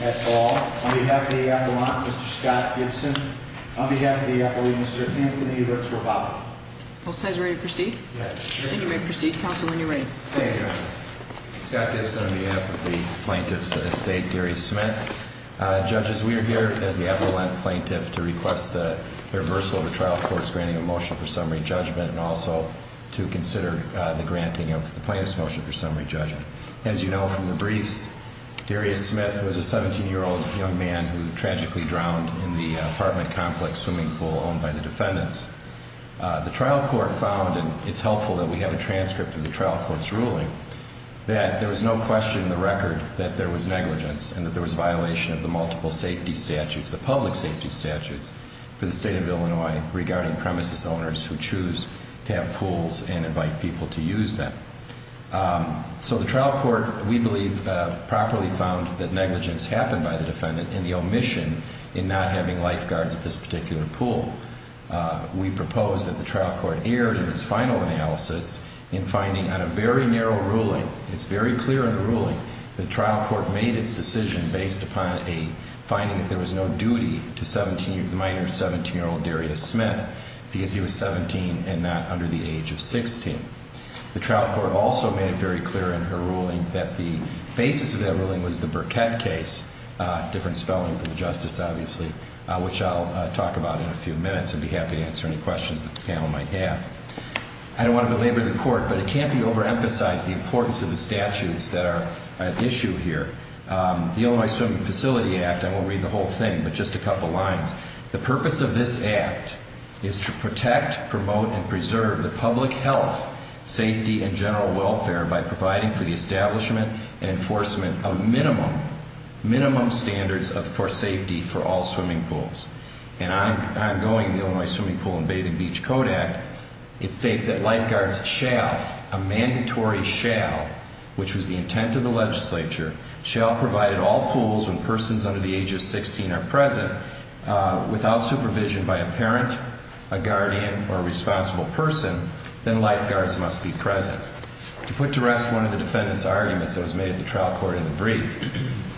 at all. On behalf of the Appellant, Mr. Scott Gibson. On behalf of the Appellant, Mr. Anthony Rooks-Rababa. Both sides ready to proceed? Yes. Then you may proceed, counsel, when you're ready. Thank you. Scott Gibson on behalf of the plaintiff's estate, Gary Smith. Judges, we are here as the Appellant plaintiff to request the reversal of the trial court's granting of motion for summary judgment and also to consider the granting of the plaintiff's motion for summary judgment. As you know from the briefs, Darius Smith was a 17-year-old young man who tragically drowned in the apartment complex swimming pool owned by the defendants. The trial court found, and it's helpful that we have a transcript of the trial court's ruling, that there was no question in the record that there was negligence and that there was a violation of the multiple safety statutes, the public safety statutes, for the state of Illinois regarding premises owners who choose to have pools and invite people to use them. So the trial court, we believe, properly found that negligence happened by the defendant and the omission in not having lifeguards at this particular pool. We propose that the trial court err in its final analysis in finding on a very narrow ruling, it's very clear in the ruling, the trial court made its decision based upon a finding that there was no duty to minor 17-year-old Darius Smith because he was 17 and not under the age of 16. The trial court also made it very clear in her ruling that the basis of that ruling was the Burkett case, different spelling for the justice obviously, which I'll talk about in a few minutes and be happy to answer any questions the panel might have. I don't want to belabor the court, but it can't be overemphasized the importance of the statutes that are at issue here. The Illinois Swimming Facility Act, I won't read the whole thing, but just a couple lines. The purpose of this act is to protect, promote, and preserve the public health, safety, and general welfare by providing for the establishment and enforcement of minimum, minimum standards for safety for all swimming pools. And ongoing, the Illinois Swimming Pool and Bathing Beach Code Act, it states that lifeguards shall, a mandatory shall, which was the intent of the legislature, shall provide at all pools when persons under the age of 16 are present, without supervision by a parent, a guardian, or a responsible person, then lifeguards must be present. To put to rest one of the defendant's arguments that was made at the trial court in the brief,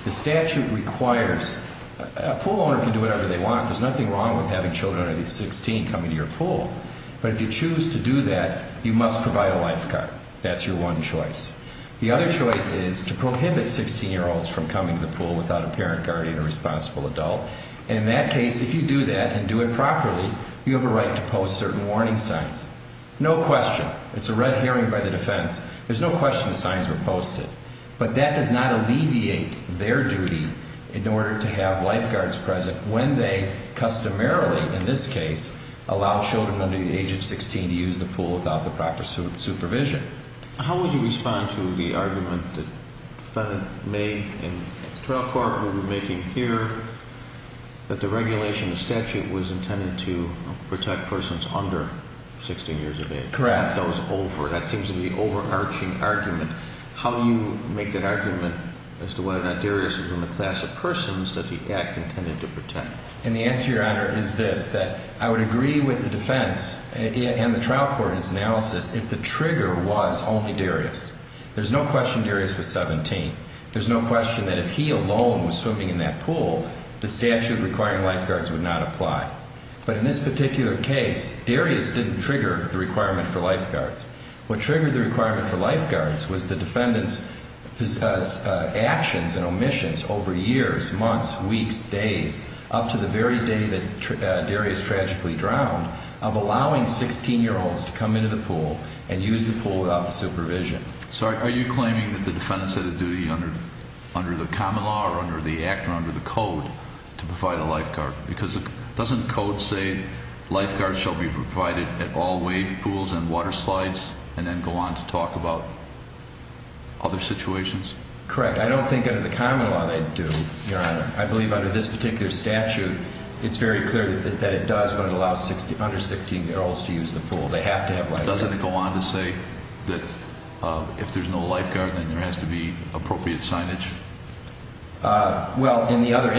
the statute requires, a pool owner can do whatever they want, there's nothing wrong with having children under the age of 16 coming to your pool, but if you choose to do that, you must provide a lifeguard. That's your one choice. The other choice is to prohibit 16-year-olds from coming to the pool without a parent, guardian, or responsible adult. In that case, if you do that, and do it properly, you have a right to post certain warning signs. No question, it's a red herring by the defense, there's no question the signs were posted. But that does not alleviate their duty in this case, allow children under the age of 16 to use the pool without the proper supervision. How would you respond to the argument that the defendant made in the trial court that we're making here, that the regulation of the statute was intended to protect persons under 16 years of age? Correct. That seems to be an overarching argument. How do you make that argument as to whether or not Darius is in the class of persons that the Act intended to protect? And the answer, Your Honor, is this, that I would agree with the defense and the trial court in its analysis if the trigger was only Darius. There's no question Darius was 17. There's no question that if he alone was swimming in that pool, the statute requiring lifeguards would not apply. But in this particular case, Darius didn't trigger the requirement for lifeguards. What triggered the requirement for lifeguards was the defendant's actions and omissions over years, months, weeks, days, up to the very day that Darius tragically drowned, of allowing 16-year-olds to come into the pool and use the pool without the supervision. So are you claiming that the defendant's had a duty under the common law or under the Act or under the Code to provide a lifeguard? Because doesn't Code say lifeguards shall be provided at all wave pools and waterslides and then go on to talk about other situations? Correct. I don't think under the common law they do, Your Honor. I believe under this particular statute, it's very clear that it does when it allows under 16-year-olds to use the pool. They have to have lifeguards. Doesn't it go on to say that if there's no lifeguard, then there has to be appropriate signage? Well, in the other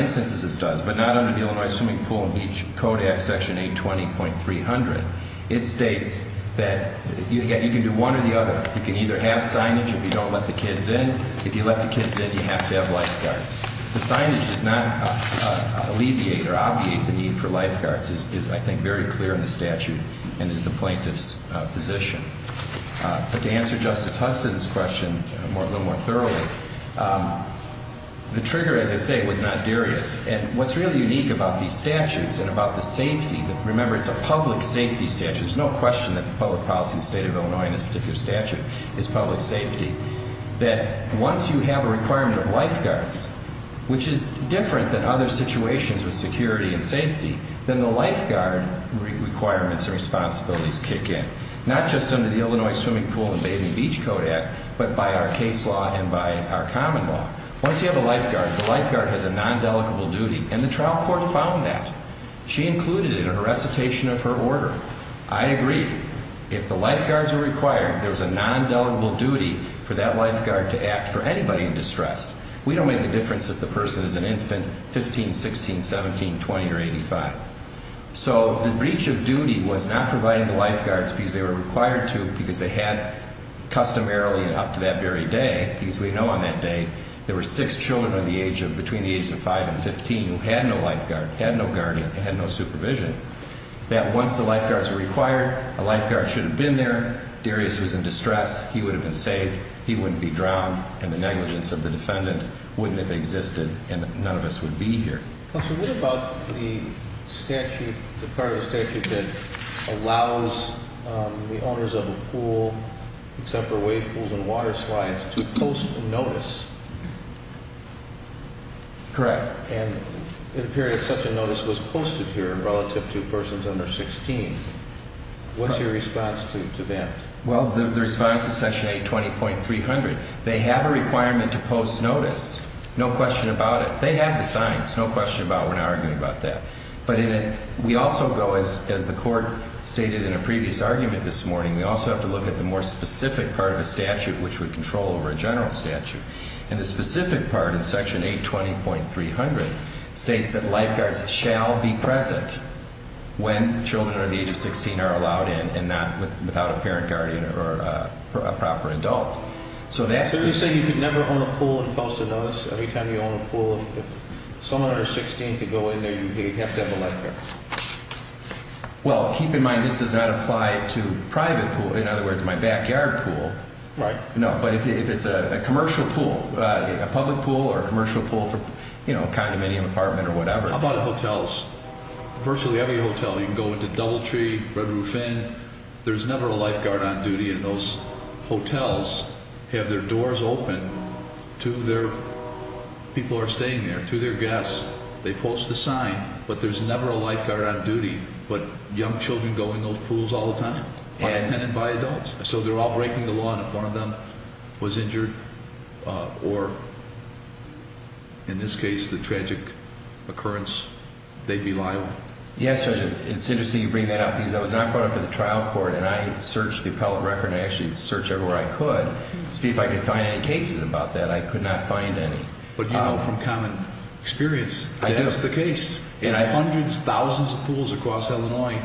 swimming pool, in each code act, section 820.300, it states that you can do one or the other. You can either have signage if you don't let the kids in. If you let the kids in, you have to have lifeguards. The signage does not alleviate or obviate the need for lifeguards is, I think, very clear in the statute and is the plaintiff's position. But to answer Justice Hudson's question a little more thoroughly, the trigger, as I say, was not Darius. And what's really unique about these statutes and about the safety, remember, it's a public safety statute. There's no question that the public policy in the state of Illinois in this particular statute is public safety. That once you have a requirement of lifeguards, which is different than other situations with security and safety, then the lifeguard requirements and responsibilities kick in. Not just under the Illinois Swimming Pool and Bathing Beach Code Act, but by our case law and by our common law. Once you have a lifeguard, the lifeguard has a nondelegable duty, and the trial court found that. She included it in her recitation of her order. I agree. If the lifeguards are required, there was a nondelegable duty for that lifeguard to act for anybody in distress. We don't make the difference if the person is an infant, 15, 16, 17, 20, or 85. So the breach of duty was not providing the lifeguards because they were required to because they had customarily guarded up to that very day because we know on that day there were six children between the ages of 5 and 15 who had no lifeguard, had no guardian, and had no supervision. That once the lifeguards were required, a lifeguard should have been there. Darius was in distress. He would have been saved. He wouldn't be drowned, and the negligence of the defendant wouldn't have existed, and none of us would be here. Counsel, what about the statute, the part of the statute that allows the owners of a pool, except for wave pools and water slides, to post a notice? Correct. And it appears such a notice was posted here relative to persons under 16. What's your response to that? Well, the response is section 820.300. They have a requirement to post notice, no question about we're not arguing about that. But we also go, as the court stated in a previous argument this morning, we also have to look at the more specific part of the statute which would control over a general statute. And the specific part in section 820.300 states that lifeguards shall be present when children under the age of 16 are allowed in and not without a parent, guardian, or a proper adult. So that's the... So you're saying you could own a pool and post a notice every time you own a pool if someone under 16 could go in there, you'd have to have a lifeguard? Well, keep in mind this does not apply to private pool, in other words, my backyard pool. Right. No, but if it's a commercial pool, a public pool or a commercial pool for, you know, a condominium apartment or whatever. How about hotels? Virtually every hotel, you can go into Doubletree, Red Roof Inn, there's never a lifeguard on duty and those hotels have their doors open to their... People are staying there, to their guests, they post a sign, but there's never a lifeguard on duty. But young children go in those pools all the time, by tenant, by adult. So they're all breaking the law and if one of them was injured or, in this case, the tragic occurrence, they'd be liable. Yes, Judge, it's interesting you bring that up because I was not brought up with the trial court and I searched the appellate record and I actually searched everywhere I could to see if I could find any cases about that. I could not find any. But you know from common experience, that's the case. In hundreds, thousands of pools across Illinois,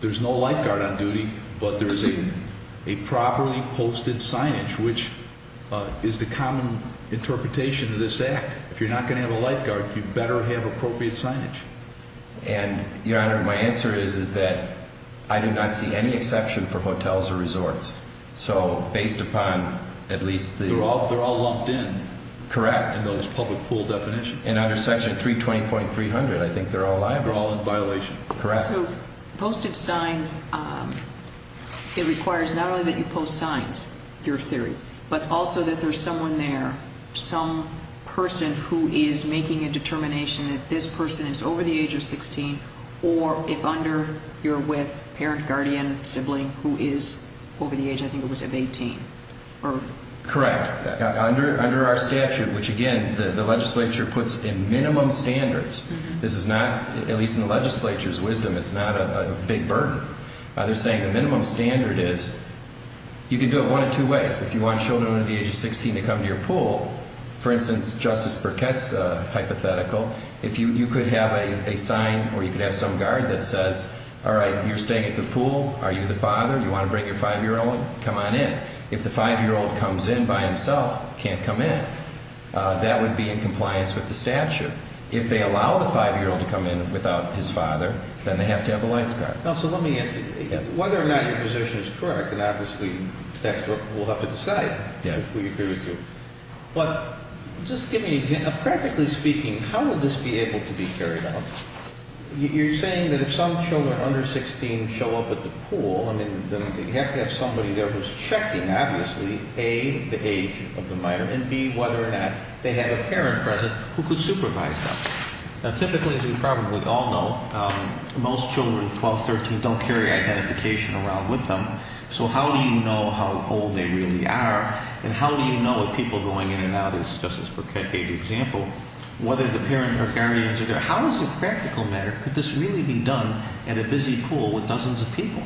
there's no lifeguard on duty, but there is a properly posted signage, which is the common interpretation of this act. If you're not going to have a lifeguard, you better have appropriate signage. And, Your Honor, my answer is that I do not see any exception for hotels or resorts. So based upon at least the... They're all lumped in. Correct. In those public pool definitions. And under Section 320.300, I think they're all liable. They're all in violation. Correct. So posted signs, it requires not only that you post signs, your theory, but also that there's someone there, some person who is making a determination that this person is over the age of 16 or if under, you're with parent, guardian, sibling who is over the age, I think it was of 18. Correct. Under our statute, which again, the legislature puts in minimum standards. This is not, at least in the legislature's wisdom, it's not a big burden. They're saying the minimum standard is, you can do it one of two ways. If you want children under the age of 16 to come to your pool, for instance, Justice Burkett's hypothetical, if you could have a sign or you could have some guard that says, all right, you're staying at the pool. Are you the father? You want to bring your five-year-old? Come on in. If the five-year-old comes in by himself, can't come in, that would be in compliance with the statute. If they allow the five-year-old to come in without his father, then they have to have a lifeguard. So let me ask you, whether or not your position is correct, and obviously the textbook will have to decide who you agree with you. But just give me an example. Practically speaking, how will this be able to be carried out? You're saying that if some children under 16 show up at the pool, I mean, you have to have somebody there who's checking obviously, A, the age of the minor, and B, whether or not they have a parent present who could supervise them. Now typically, as we probably all know, most children 12, 13 don't carry identification around with them. So how do you know how old they really are? And how do you know if people going in and out is, just as per KJ's example, whether the parent or guardians are there? How does it practically matter? Could this really be done at a busy pool with dozens of people?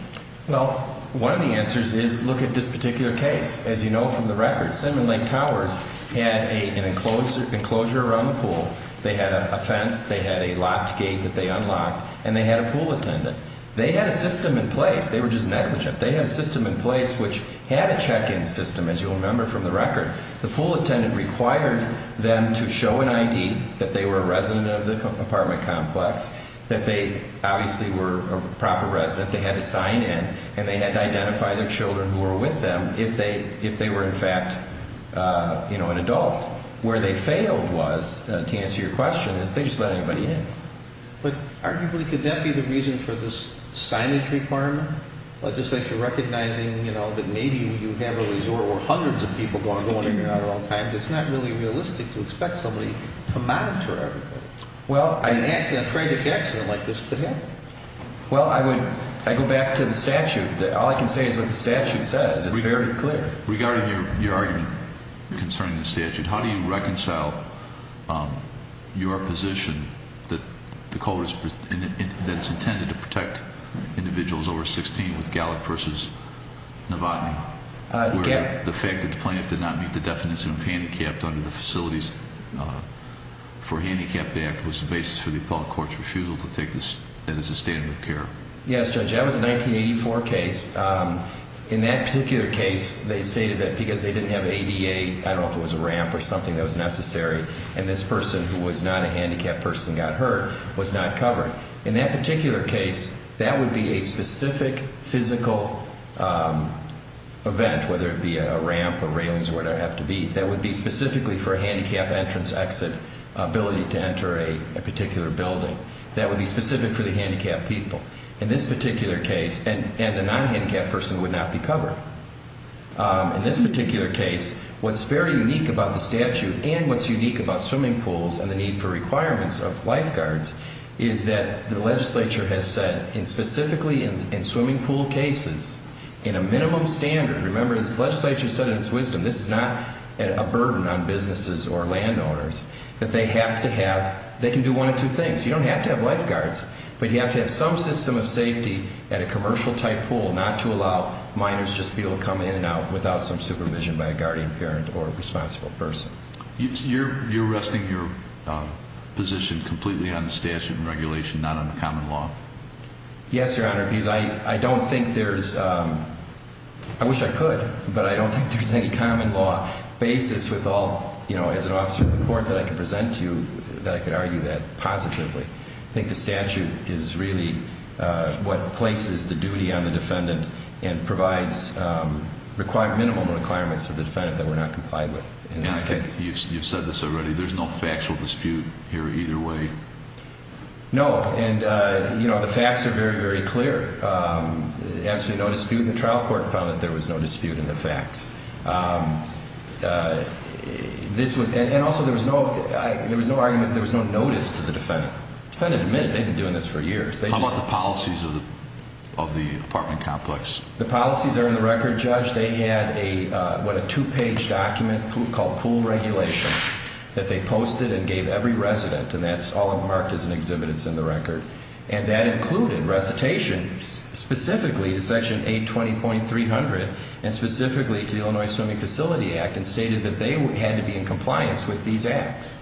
Well, one of the answers is, look at this particular case. As you know from the record, Cinnamon Lake Towers had an enclosure around the pool. They had a fence. They had a locked gate that they unlocked. And they had a pool attendant. They had a system in place. They were just negligent. They had a system in place which had a check-in system, as you will remember from the record. The pool attendant required them to show an ID that they were a resident of the apartment complex, that they obviously were a proper resident, they had to sign in, and they had to identify their children who were with them if they were in fact, you know, an adult. Where they failed was, to answer your question, is they just let anybody in. But arguably, could that be the reason for this signage requirement? Legislature recognizing, you know, that maybe you have a resort where hundreds of people going in and out at all times. It's not really realistic to expect somebody to monitor everybody. Well, I A tragic accident like this could happen. Well, I would, I go back to the statute. All I can say is what the statute says. It's very clear. Regarding your argument concerning the statute, how do you reconcile your position that the code is, that it's intended to protect individuals over 16 with Gallup versus Novotny? Gallup Where the fact that the plaintiff did not meet the definition of handicapped under the Facilities for Handicapped Act was the basis for the appellate court's refusal to take this as a standard of care. Yes, Judge, that was a 1984 case. In that particular case, they stated that because they didn't have ADA, I don't know if it was a ramp or something that was necessary, and this person who was not a handicapped person got hurt, was not covered. In that particular case, that would be a specific physical event, whether it be a ramp or railings or whatever it would have to be, that would be specifically for a handicapped entrance exit ability to enter a particular building. That would be specific for the handicapped people. In this particular case, and a non-handicapped person would not be covered. In this particular case, what's very unique about the statute and what's unique about swimming pools and the need for requirements of lifeguards is that the legislature has said, and specifically in swimming pool cases, in a minimum standard, remember this legislature said in its wisdom, this is not a burden on businesses or landowners, that they have to have, they can do one of two things. You don't have to have lifeguards, but you have to have some system of safety at a commercial type pool, not to allow minors just to be able to come in and out without some supervision by a guardian parent or a responsible person. You're resting your position completely on the statute and regulation, not on the common law? Yes, Your Honor, because I don't think there's, I wish I could, but I don't think there's any common law basis with all, you know, as an officer of the court that I can present to you that I could argue that positively. I think the statute is really what places the duty on the defendant and provides minimum requirements for the defendant that we're not complied with in this case. And I think you've said this already, there's no factual dispute here either way? No, and you know, the facts are very, very clear. There's absolutely no dispute. The this was, and also there was no, there was no argument, there was no notice to the defendant. Defendant admitted they've been doing this for years. How about the policies of the apartment complex? The policies are in the record, Judge. They had a, what, a two-page document called pool regulations that they posted and gave every resident, and that's all marked as an exhibit that's in the record. And that included recitation specifically to Section 820.300 and specifically to the Illinois Swimming Facility Act and stated that they had to be in compliance with these acts.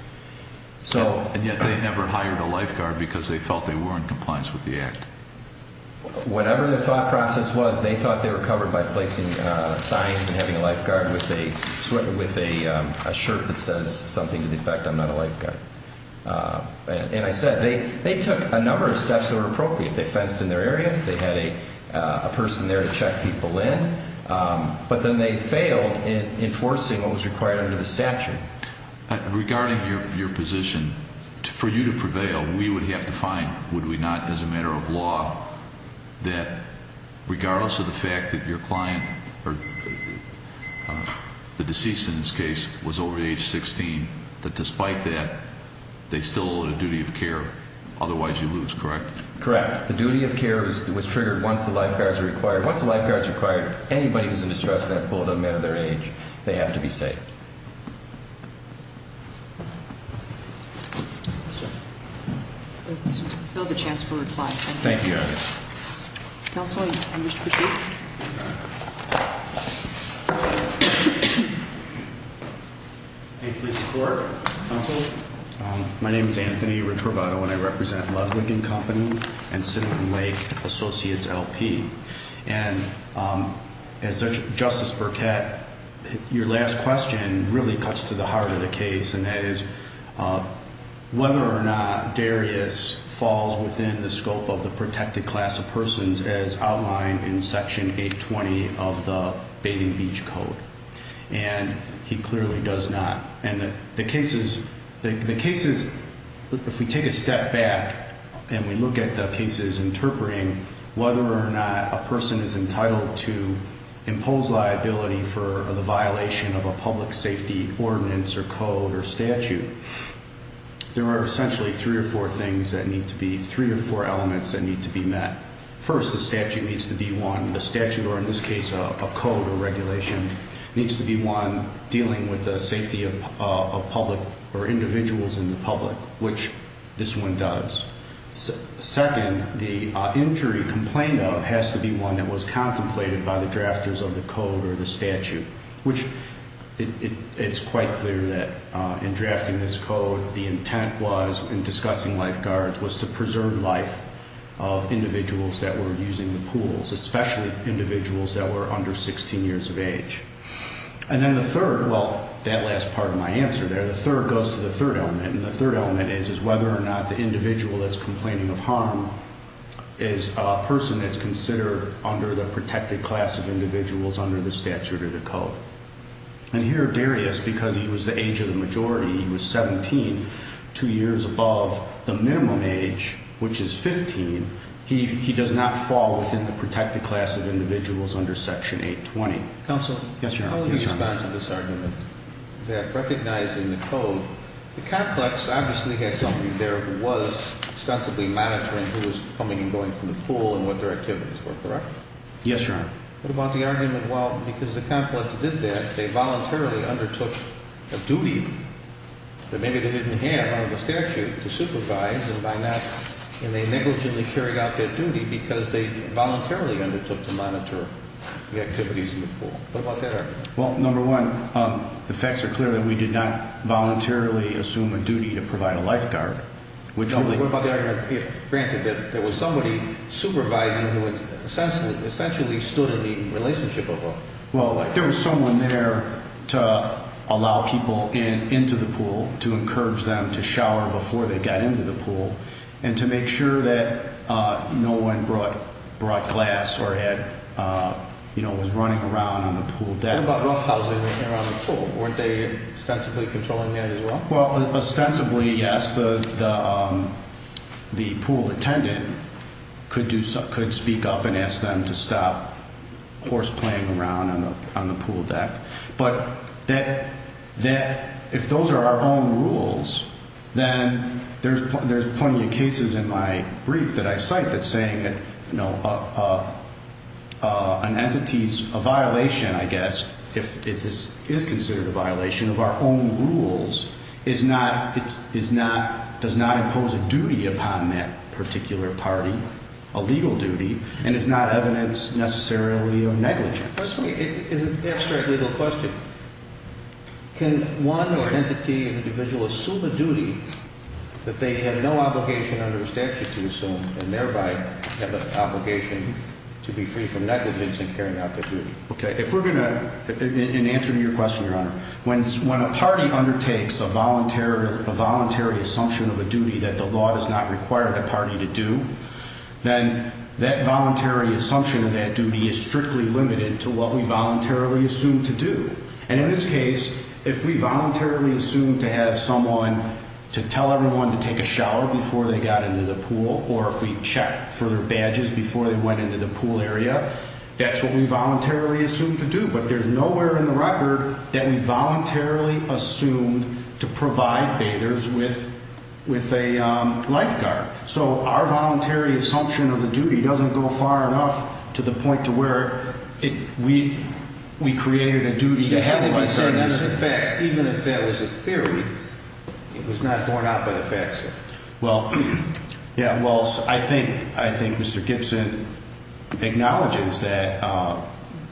And yet they never hired a lifeguard because they felt they were in compliance with the act? Whatever the thought process was, they thought they were covered by placing signs and having a lifeguard with a shirt that says something to the effect, I'm not a lifeguard. And I said, they took a number of steps that were appropriate. They fenced in their area, they had a person there to check people in. But then they failed in enforcing what was required under the statute. Regarding your position, for you to prevail, we would have to find, would we not, as a matter of law, that regardless of the fact that your client, or the deceased in this case, was over age 16, that despite that, they still owed a duty of care, otherwise you lose, correct? Correct. The duty of care was triggered once the lifeguards were acquired. Once the lifeguards were acquired, anybody who's in distress in that pool, no matter their age, they have to be saved. We'll have a chance for reply. Thank you. Thank you, Your Honor. Counsel, you wish to proceed? I plead the court. Counsel? My name is Anthony Retrovato and I represent Ludwig & Company and Cinnamon Lake Associates LP. And as Justice Burkett, your last question really cuts to the heart of the case, and that is whether or not Darius falls within the scope of the protected class of persons as outlined in Section 820 of the Bathing Beach Code. And he clearly does not. And the cases, if we take a step back and we look at the cases interpreting whether or not a person is entitled to impose liability for the violation of a public safety ordinance or code or statute, there are essentially three or four things that need to be, three or four elements that need to be met. First, the statute needs to be one. The statute, or in this case, a code or regulation, needs to be one dealing with the safety of public or individuals in the public, which this one does. Second, the injury complained of has to be one that was contemplated by the drafters of the code or the statute, which it's quite clear that in drafting this code, the intent was, in discussing lifeguards, was to preserve life of individuals that were using the pools, especially individuals that were under 16 years of age. And then the third, well, that last part of my answer there, the third goes to the third element, and the third element is, is whether or not the individual that's complaining of harm is a person that's considered under the protected class of individuals under the statute or the code. And here Darius, because he was the age of the majority, he was two years above the minimum age, which is 15, he does not fall within the protected class of individuals under Section 820. Counsel? Yes, Your Honor. How would you respond to this argument that recognizing the code, the complex obviously had somebody there who was ostensibly monitoring who was coming and going from the pool and what their activities were, correct? Yes, Your Honor. What about the argument, well, because the complex did that, they voluntarily undertook a duty that maybe they didn't have under the statute to supervise and by not, and they negligently carried out their duty because they voluntarily undertook to monitor the activities in the pool. What about that argument? Well, number one, the facts are clear that we did not voluntarily assume a duty to provide a lifeguard. What about the argument, granted that there was somebody supervising who essentially stood in the relationship of a lifeguard? Well, there was someone there to allow people into the pool, to encourage them to shower before they got into the pool, and to make sure that no one brought glass or was running around on the pool deck. What about roughhousing around the pool? Weren't they ostensibly controlling that as well? Well, ostensibly, yes, the pool attendant could speak up and ask them to stop horseplaying around on the pool deck, but if those are our own rules, then there's plenty of cases in my brief that I cite that saying that an entity's violation, I guess, if this is considered a violation of our own rules, does not impose a duty upon that particular party, a legal question. Can one entity or individual assume a duty that they have no obligation under the statute to assume, and thereby have an obligation to be free from negligence in carrying out their duty? Okay, in answer to your question, Your Honor, when a party undertakes a voluntary assumption of a duty that the law does not require the party to do, then that voluntary assumption of that duty is strictly limited to what we voluntarily assume to do. And in this case, if we voluntarily assume to have someone to tell everyone to take a shower before they got into the pool, or if we check for their badges before they went into the pool area, that's what we voluntarily assume to do, but there's nowhere in the record that we voluntarily assumed to provide bathers with a lifeguard. So our voluntary assumption of a duty doesn't go far enough to the point to where we created a duty to have a lifeguard. Even if that was a theory, it was not borne out by the facts, sir. Well, yeah, well, I think Mr. Gibson acknowledges that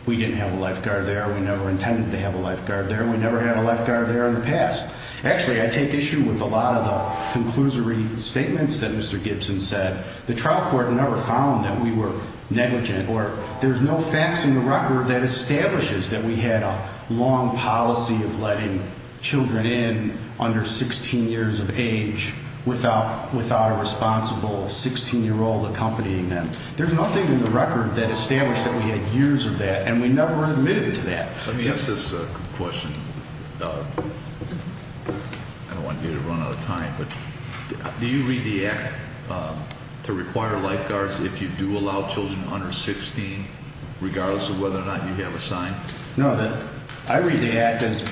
we didn't have a lifeguard there, we never intended to have a lifeguard there, we never had a lifeguard there in the past. Actually, I take issue with a lot of the conclusory statements that Mr. Gibson said. The trial court never found that we were negligent, or there's no facts in the record that establishes that we had a long policy of letting children in under 16 years of age without a responsible 16-year-old accompanying them. There's nothing in the record that established that we had years of that, and we never admitted to that. Let me ask this question. I don't want you to run out of time, but do you read the Act to require lifeguards if you do allow children under 16, regardless of whether or not you have a sign? No, I read the Act as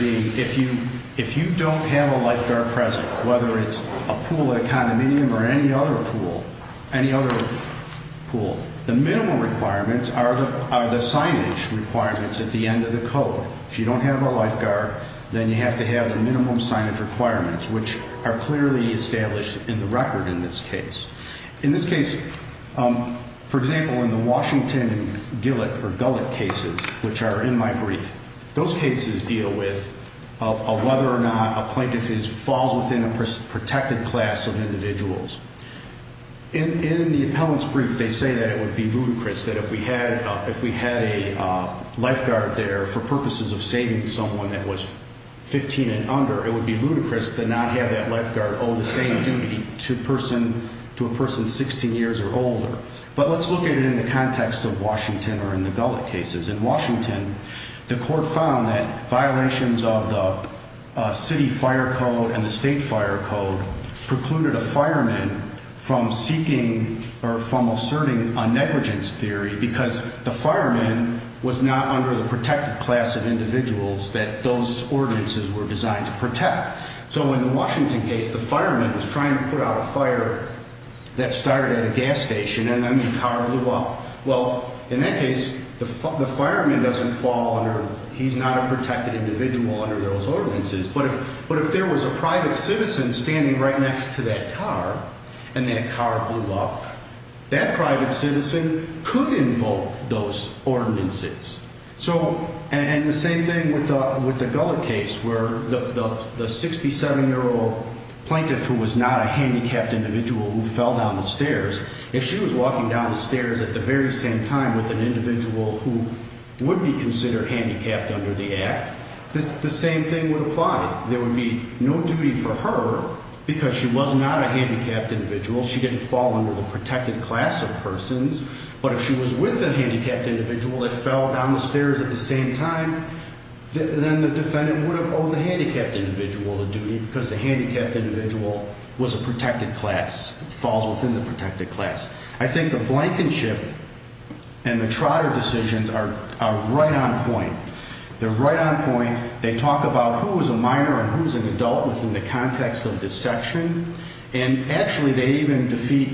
being if you don't have a lifeguard present, whether it's a pool at a condominium or any other pool, any other pool, the minimal requirements are the signage requirements at the end of the code. If you don't have a lifeguard, then you have to have the minimum signage requirements, which are clearly established in the record in this case. In this case, for example, in the Washington Gillick or Gullick cases, which are in my brief, those cases deal with whether or not a plaintiff falls within a protected class of individuals. In the appellant's brief, they say that it would be ludicrous that if we had a lifeguard there for purposes of saving someone that was 15 and under, it would be ludicrous to not have that lifeguard owe the same duty to a person 16 years or older. But let's look at it in the context of Washington or in the Gullick cases. In Washington, the court found that violations of the city fire code and the state fire code precluded a fireman from seeking or from asserting a negligence theory because the fireman was not under the protected class of individuals that those ordinances were designed to protect. So in the Washington case, the fireman was trying to put out a fire that started at a gas station and then the car blew up. Well, in that case, the fireman doesn't fall under, he's not a protected individual under those ordinances. But if there was a private citizen standing right next to that car and that car blew up, that private citizen could invoke those ordinances. So, and the same thing with the Gullick case where the 67-year-old plaintiff who was not a handicapped individual who fell down the stairs, if she was walking down the stairs at the very same time with an individual who would be considered handicapped under the same thing would apply. There would be no duty for her because she was not a handicapped individual, she didn't fall under the protected class of persons, but if she was with a handicapped individual that fell down the stairs at the same time, then the defendant would have owed the handicapped individual a duty because the handicapped individual was a protected class, falls within the protected class. I think the Blankenship and the Trotter decisions are right on point. They're right on point. They talk about who is a minor and who is an adult within the context of this section. And actually, they even defeat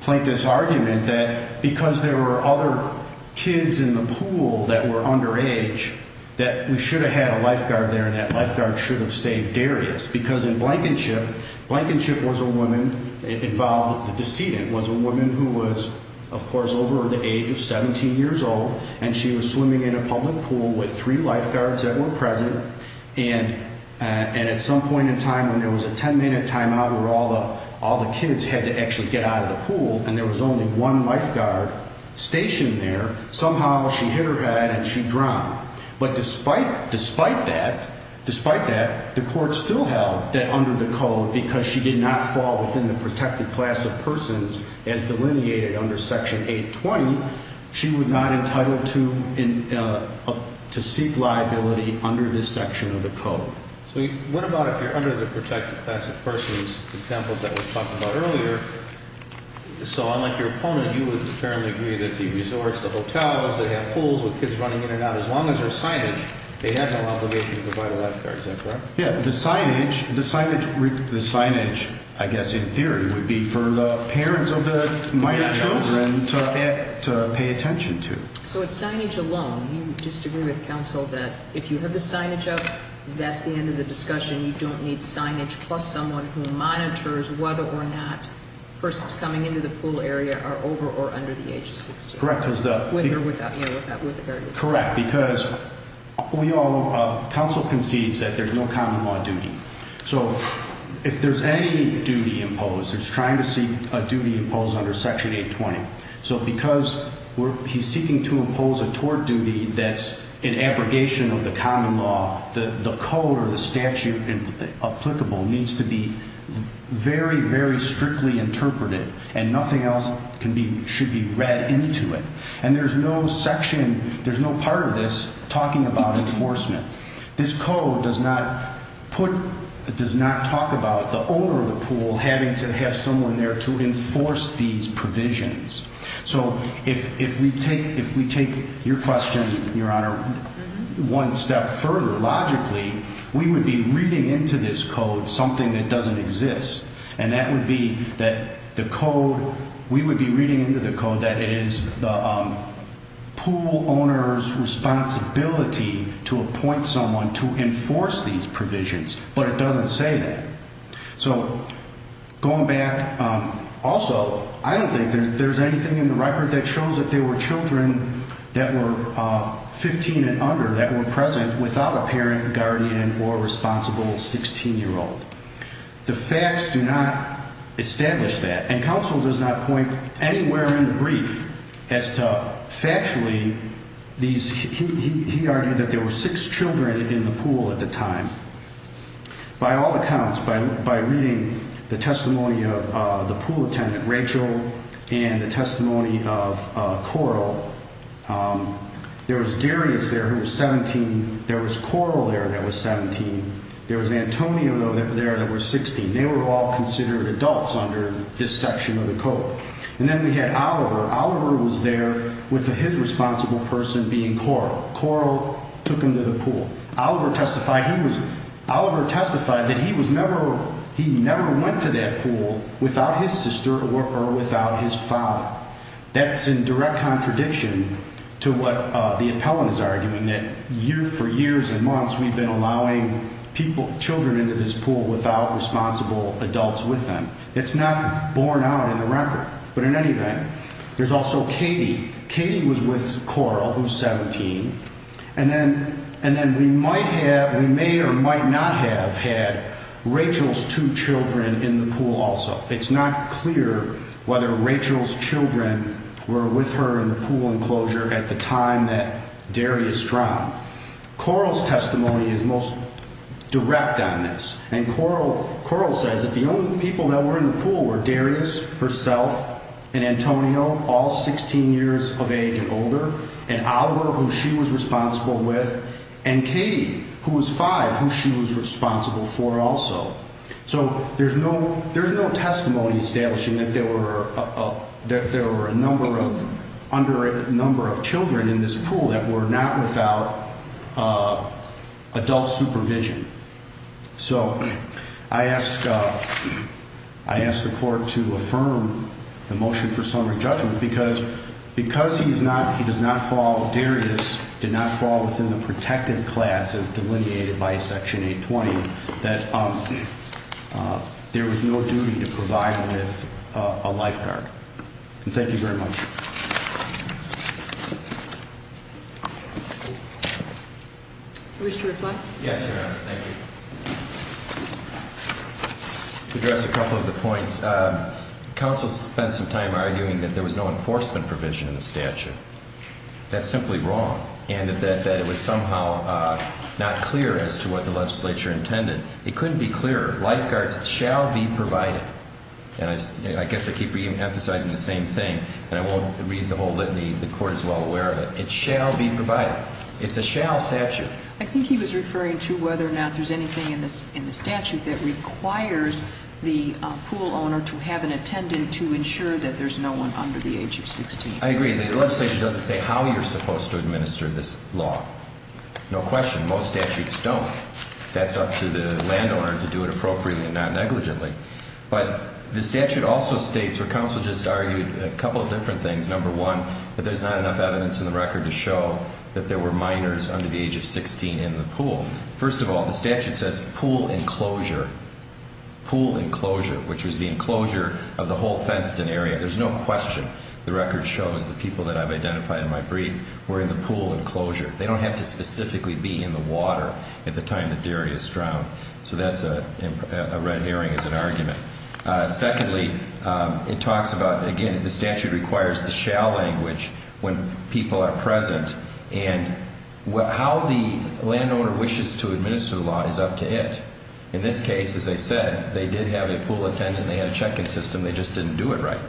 Plankton's argument that because there were other kids in the pool that were underage, that we should have had a lifeguard there and that lifeguard should have saved Darius. Because in Blankenship, Blankenship was a woman involved, the decedent was a woman who was, of course, over the age of 17 years old and she was swimming in a public pool with three lifeguards that were present and at some point in time when there was a ten minute time out where all the kids had to actually get out of the pool and there was only one lifeguard stationed there, somehow she hit her head and she drowned. But despite that, the court still held that under the code because she did not fall within the protected class of persons as delineated under Section 820, she was not entitled to seek liability under this section of the code. So what about if you're under the protected class of persons, the examples that we talked about earlier, so unlike your opponent, you would apparently agree that the resorts, the hotels, they have pools with kids running in and out, as long as there's signage, they have no obligation to provide a lifeguard, is that correct? Yeah, the signage, I guess in theory, would be for the parents of the minor children to pay attention to. So it's signage alone, you just agree with counsel that if you have the signage up, that's the end of the discussion, you don't need signage plus someone who monitors whether or not persons coming into the pool area are over or under the age of 16? Correct. With or without, you know, with or without the area. Correct, because counsel concedes that there's no common law duty. So if there's any duty imposed, it's trying to seek a duty imposed under Section 820. So because he's seeking to impose a tort duty that's an abrogation of the common law, the code or the statute applicable needs to be very, very strictly interpreted and nothing else should be read into it. And there's no section, there's no part of this talking about enforcement. This code does not put, does not talk about the owner of the pool having to have someone there to enforce these provisions. So if we take, if we take your question, Your Honor, one step further, logically, we would be reading into this code something that doesn't exist. And that would be that the code, we would be reading into the code that it is the pool owner's responsibility to appoint someone to enforce these provisions, but it doesn't say that. So going back, also, I don't think there's anything in the record that shows that there were children that were 15 and under that were present without a parent, guardian, or responsible 16-year-old. The facts do not establish that. And counsel does not point anywhere in the brief as to factually these, he argued that there were six children in the pool at the time. By all accounts, by reading the testimony of the pool attendant, Rachel, and the testimony of Coral, there was Darius there who was 17, there was Coral there that was 17, there was Antonio there that was 16. They were all considered adults under this section of the code. And then we had Oliver. Oliver was there with his responsible person being Coral. Coral took him to the pool. Oliver testified he was, Oliver testified that he was never, he never went to that pool without his sister or without his father. That's in direct contradiction to what the appellant is arguing, that for years and months we've been allowing people, children into this pool without responsible adults with them. It's not borne out in the record. But in any event, there's also Katie. Katie was with Coral, who's 17. And then, and then we might have, we may or might not have had Rachel's two children in the pool also. It's not clear whether Rachel's children were with her in the pool enclosure at the time that Darius drowned. Coral's testimony is most direct on this. And Coral, Coral says that the only people that were in the pool were Darius, herself, and Antonio, all 16 years of age and older, and Oliver, who she was responsible with, and Katie, who was five, who she was responsible for also. So there's no, there's no testimony establishing that there were, that there were a number of, under a number of children in this pool that were not without adult supervision. So I ask, I ask the Court to affirm the motion for summary judgment because, because he's not, he does not fall, Darius did not fall within the protective class as delineated by Section 820, that there was no duty to provide with a lifeguard. And thank you very much. You wish to reply? Yes, Your Honor, thank you. To address a couple of the points, counsel spent some time arguing that there was no enforcement provision in the statute. That's simply wrong, and that it was somehow not clear as to what the legislature intended. It couldn't be clearer. Lifeguards shall be provided. And I guess I keep reemphasizing the same thing, and I won't read the whole litany. The Court is well aware of it. It shall be provided. It's a shall statute. I think he was referring to whether or not there's anything in the statute that requires the pool owner to have an attendant to ensure that there's no one under the age of 16. I agree. The legislature doesn't say how you're supposed to administer this law. No question. Most statutes don't. That's up to the landowner to do it appropriately and not negligently. But the statute also states where counsel just argued a couple of different things. Number one, that there's not enough evidence in the record to show that there were minors under the age of 16 in the pool. First of all, the statute says pool enclosure. Pool enclosure, which was the enclosure of the whole Fentston area. There's no question. The record shows the people that I've identified in my brief were in the pool enclosure. They don't have to specifically be in the water at the time the dairy is drowned. So that's a red herring as an argument. Secondly, it talks about, again, the statute requires the shall language when people are present. And how the landowner wishes to administer the law is up to it. In this case, as I said, they did have a pool attendant. They had a check-in system. They just didn't do it right.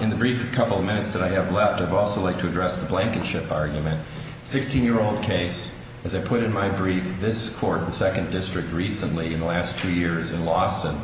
In the brief couple of minutes that I have left, I'd also like to address the blanket ship argument. Sixteen-year-old case, as I put in my brief, this court, the second district recently in the last two years in Lawson,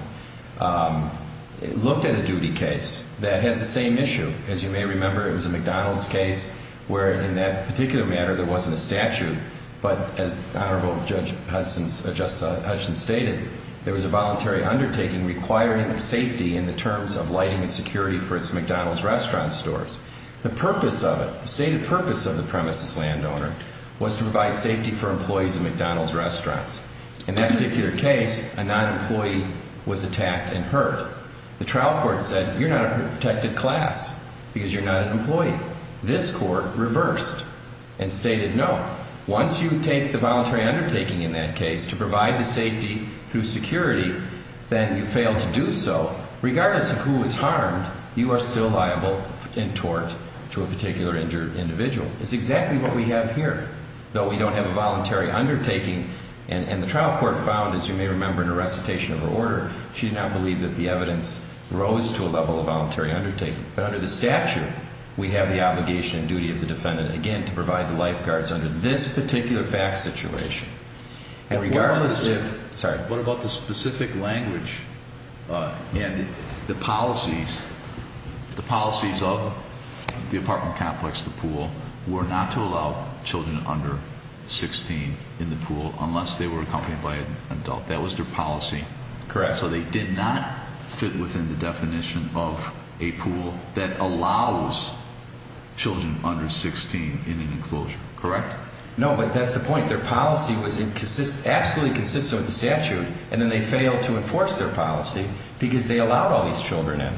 looked at a duty case that has the same issue. As you may remember, it was a McDonald's case where in that particular matter there wasn't a statute. But as Honorable Judge Hudson stated, there was a voluntary undertaking requiring safety in the terms of lighting and security for its McDonald's restaurant stores. The purpose of it, the stated purpose of the premise as landowner, was to provide safety for employees of McDonald's restaurants. In that particular case, a non-employee was attacked and hurt. The trial court said, you're not a protected class because you're not an employee. This court reversed and stated no. Once you take the voluntary undertaking in that case to provide the safety through security, then you fail to do so. Regardless of who was harmed, you are still liable in tort to a particular injured individual. It's exactly what we have here, though we don't have a voluntary undertaking. And the trial court found, as you may remember in a recitation of the order, she did not believe that the evidence rose to a level of voluntary undertaking. But under the statute, we have the obligation and duty of the defendant, again, to provide the lifeguards under this particular fact situation. What about the specific language and the policies? The policies of the apartment complex, the pool, were not to allow children under 16 in the pool unless they were accompanied by an adult. That was their policy. Correct. So they did not fit within the definition of a pool that allows children under 16 in an enclosure. Correct? No, but that's the point. Their policy was absolutely consistent with the statute, and then they failed to enforce their policy because they allowed all these children in.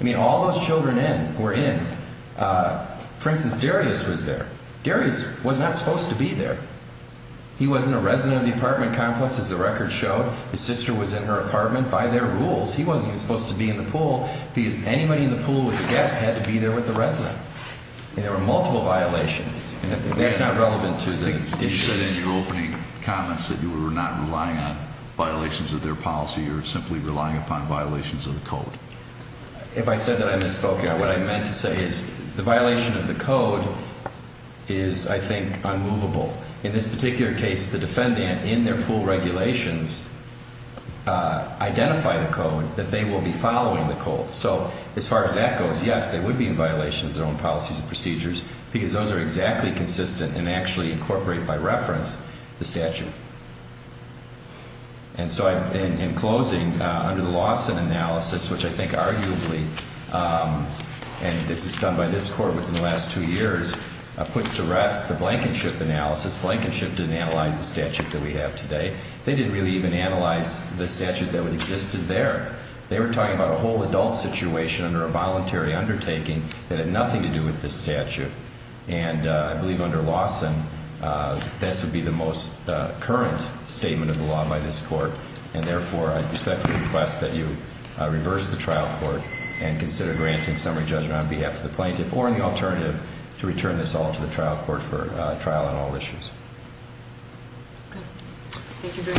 I mean, all those children were in. For instance, Darius was there. Darius was not supposed to be there. He wasn't a resident of the apartment complex, as the record showed. His sister was in her apartment. By their rules, he wasn't even supposed to be in the pool because anybody in the pool who was a guest had to be there with the resident. And there were multiple violations. That's not relevant to the issues. You said in your opening comments that you were not relying on violations of their policy or simply relying upon violations of the code. If I said that, I misspoke. What I meant to say is the violation of the code is, I think, unmovable. In this particular case, the defendant, in their pool regulations, identified the code that they will be following the code. So as far as that goes, yes, they would be in violation of their own policies and procedures because those are exactly consistent and actually incorporate, by reference, the statute. And so in closing, under the Lawson analysis, which I think arguably, and this is done by this Court within the last two years, puts to rest the Blankenship analysis. Blankenship didn't analyze the statute that we have today. They didn't really even analyze the statute that existed there. They were talking about a whole adult situation under a voluntary undertaking that had nothing to do with this statute. And I believe under Lawson, this would be the most current statement of the law by this Court, and therefore I respectfully request that you reverse the trial court and consider granting summary judgment on behalf of the plaintiff or the alternative to return this all to the trial court for trial on all issues. Thank you very much. Thank you, Your Honor.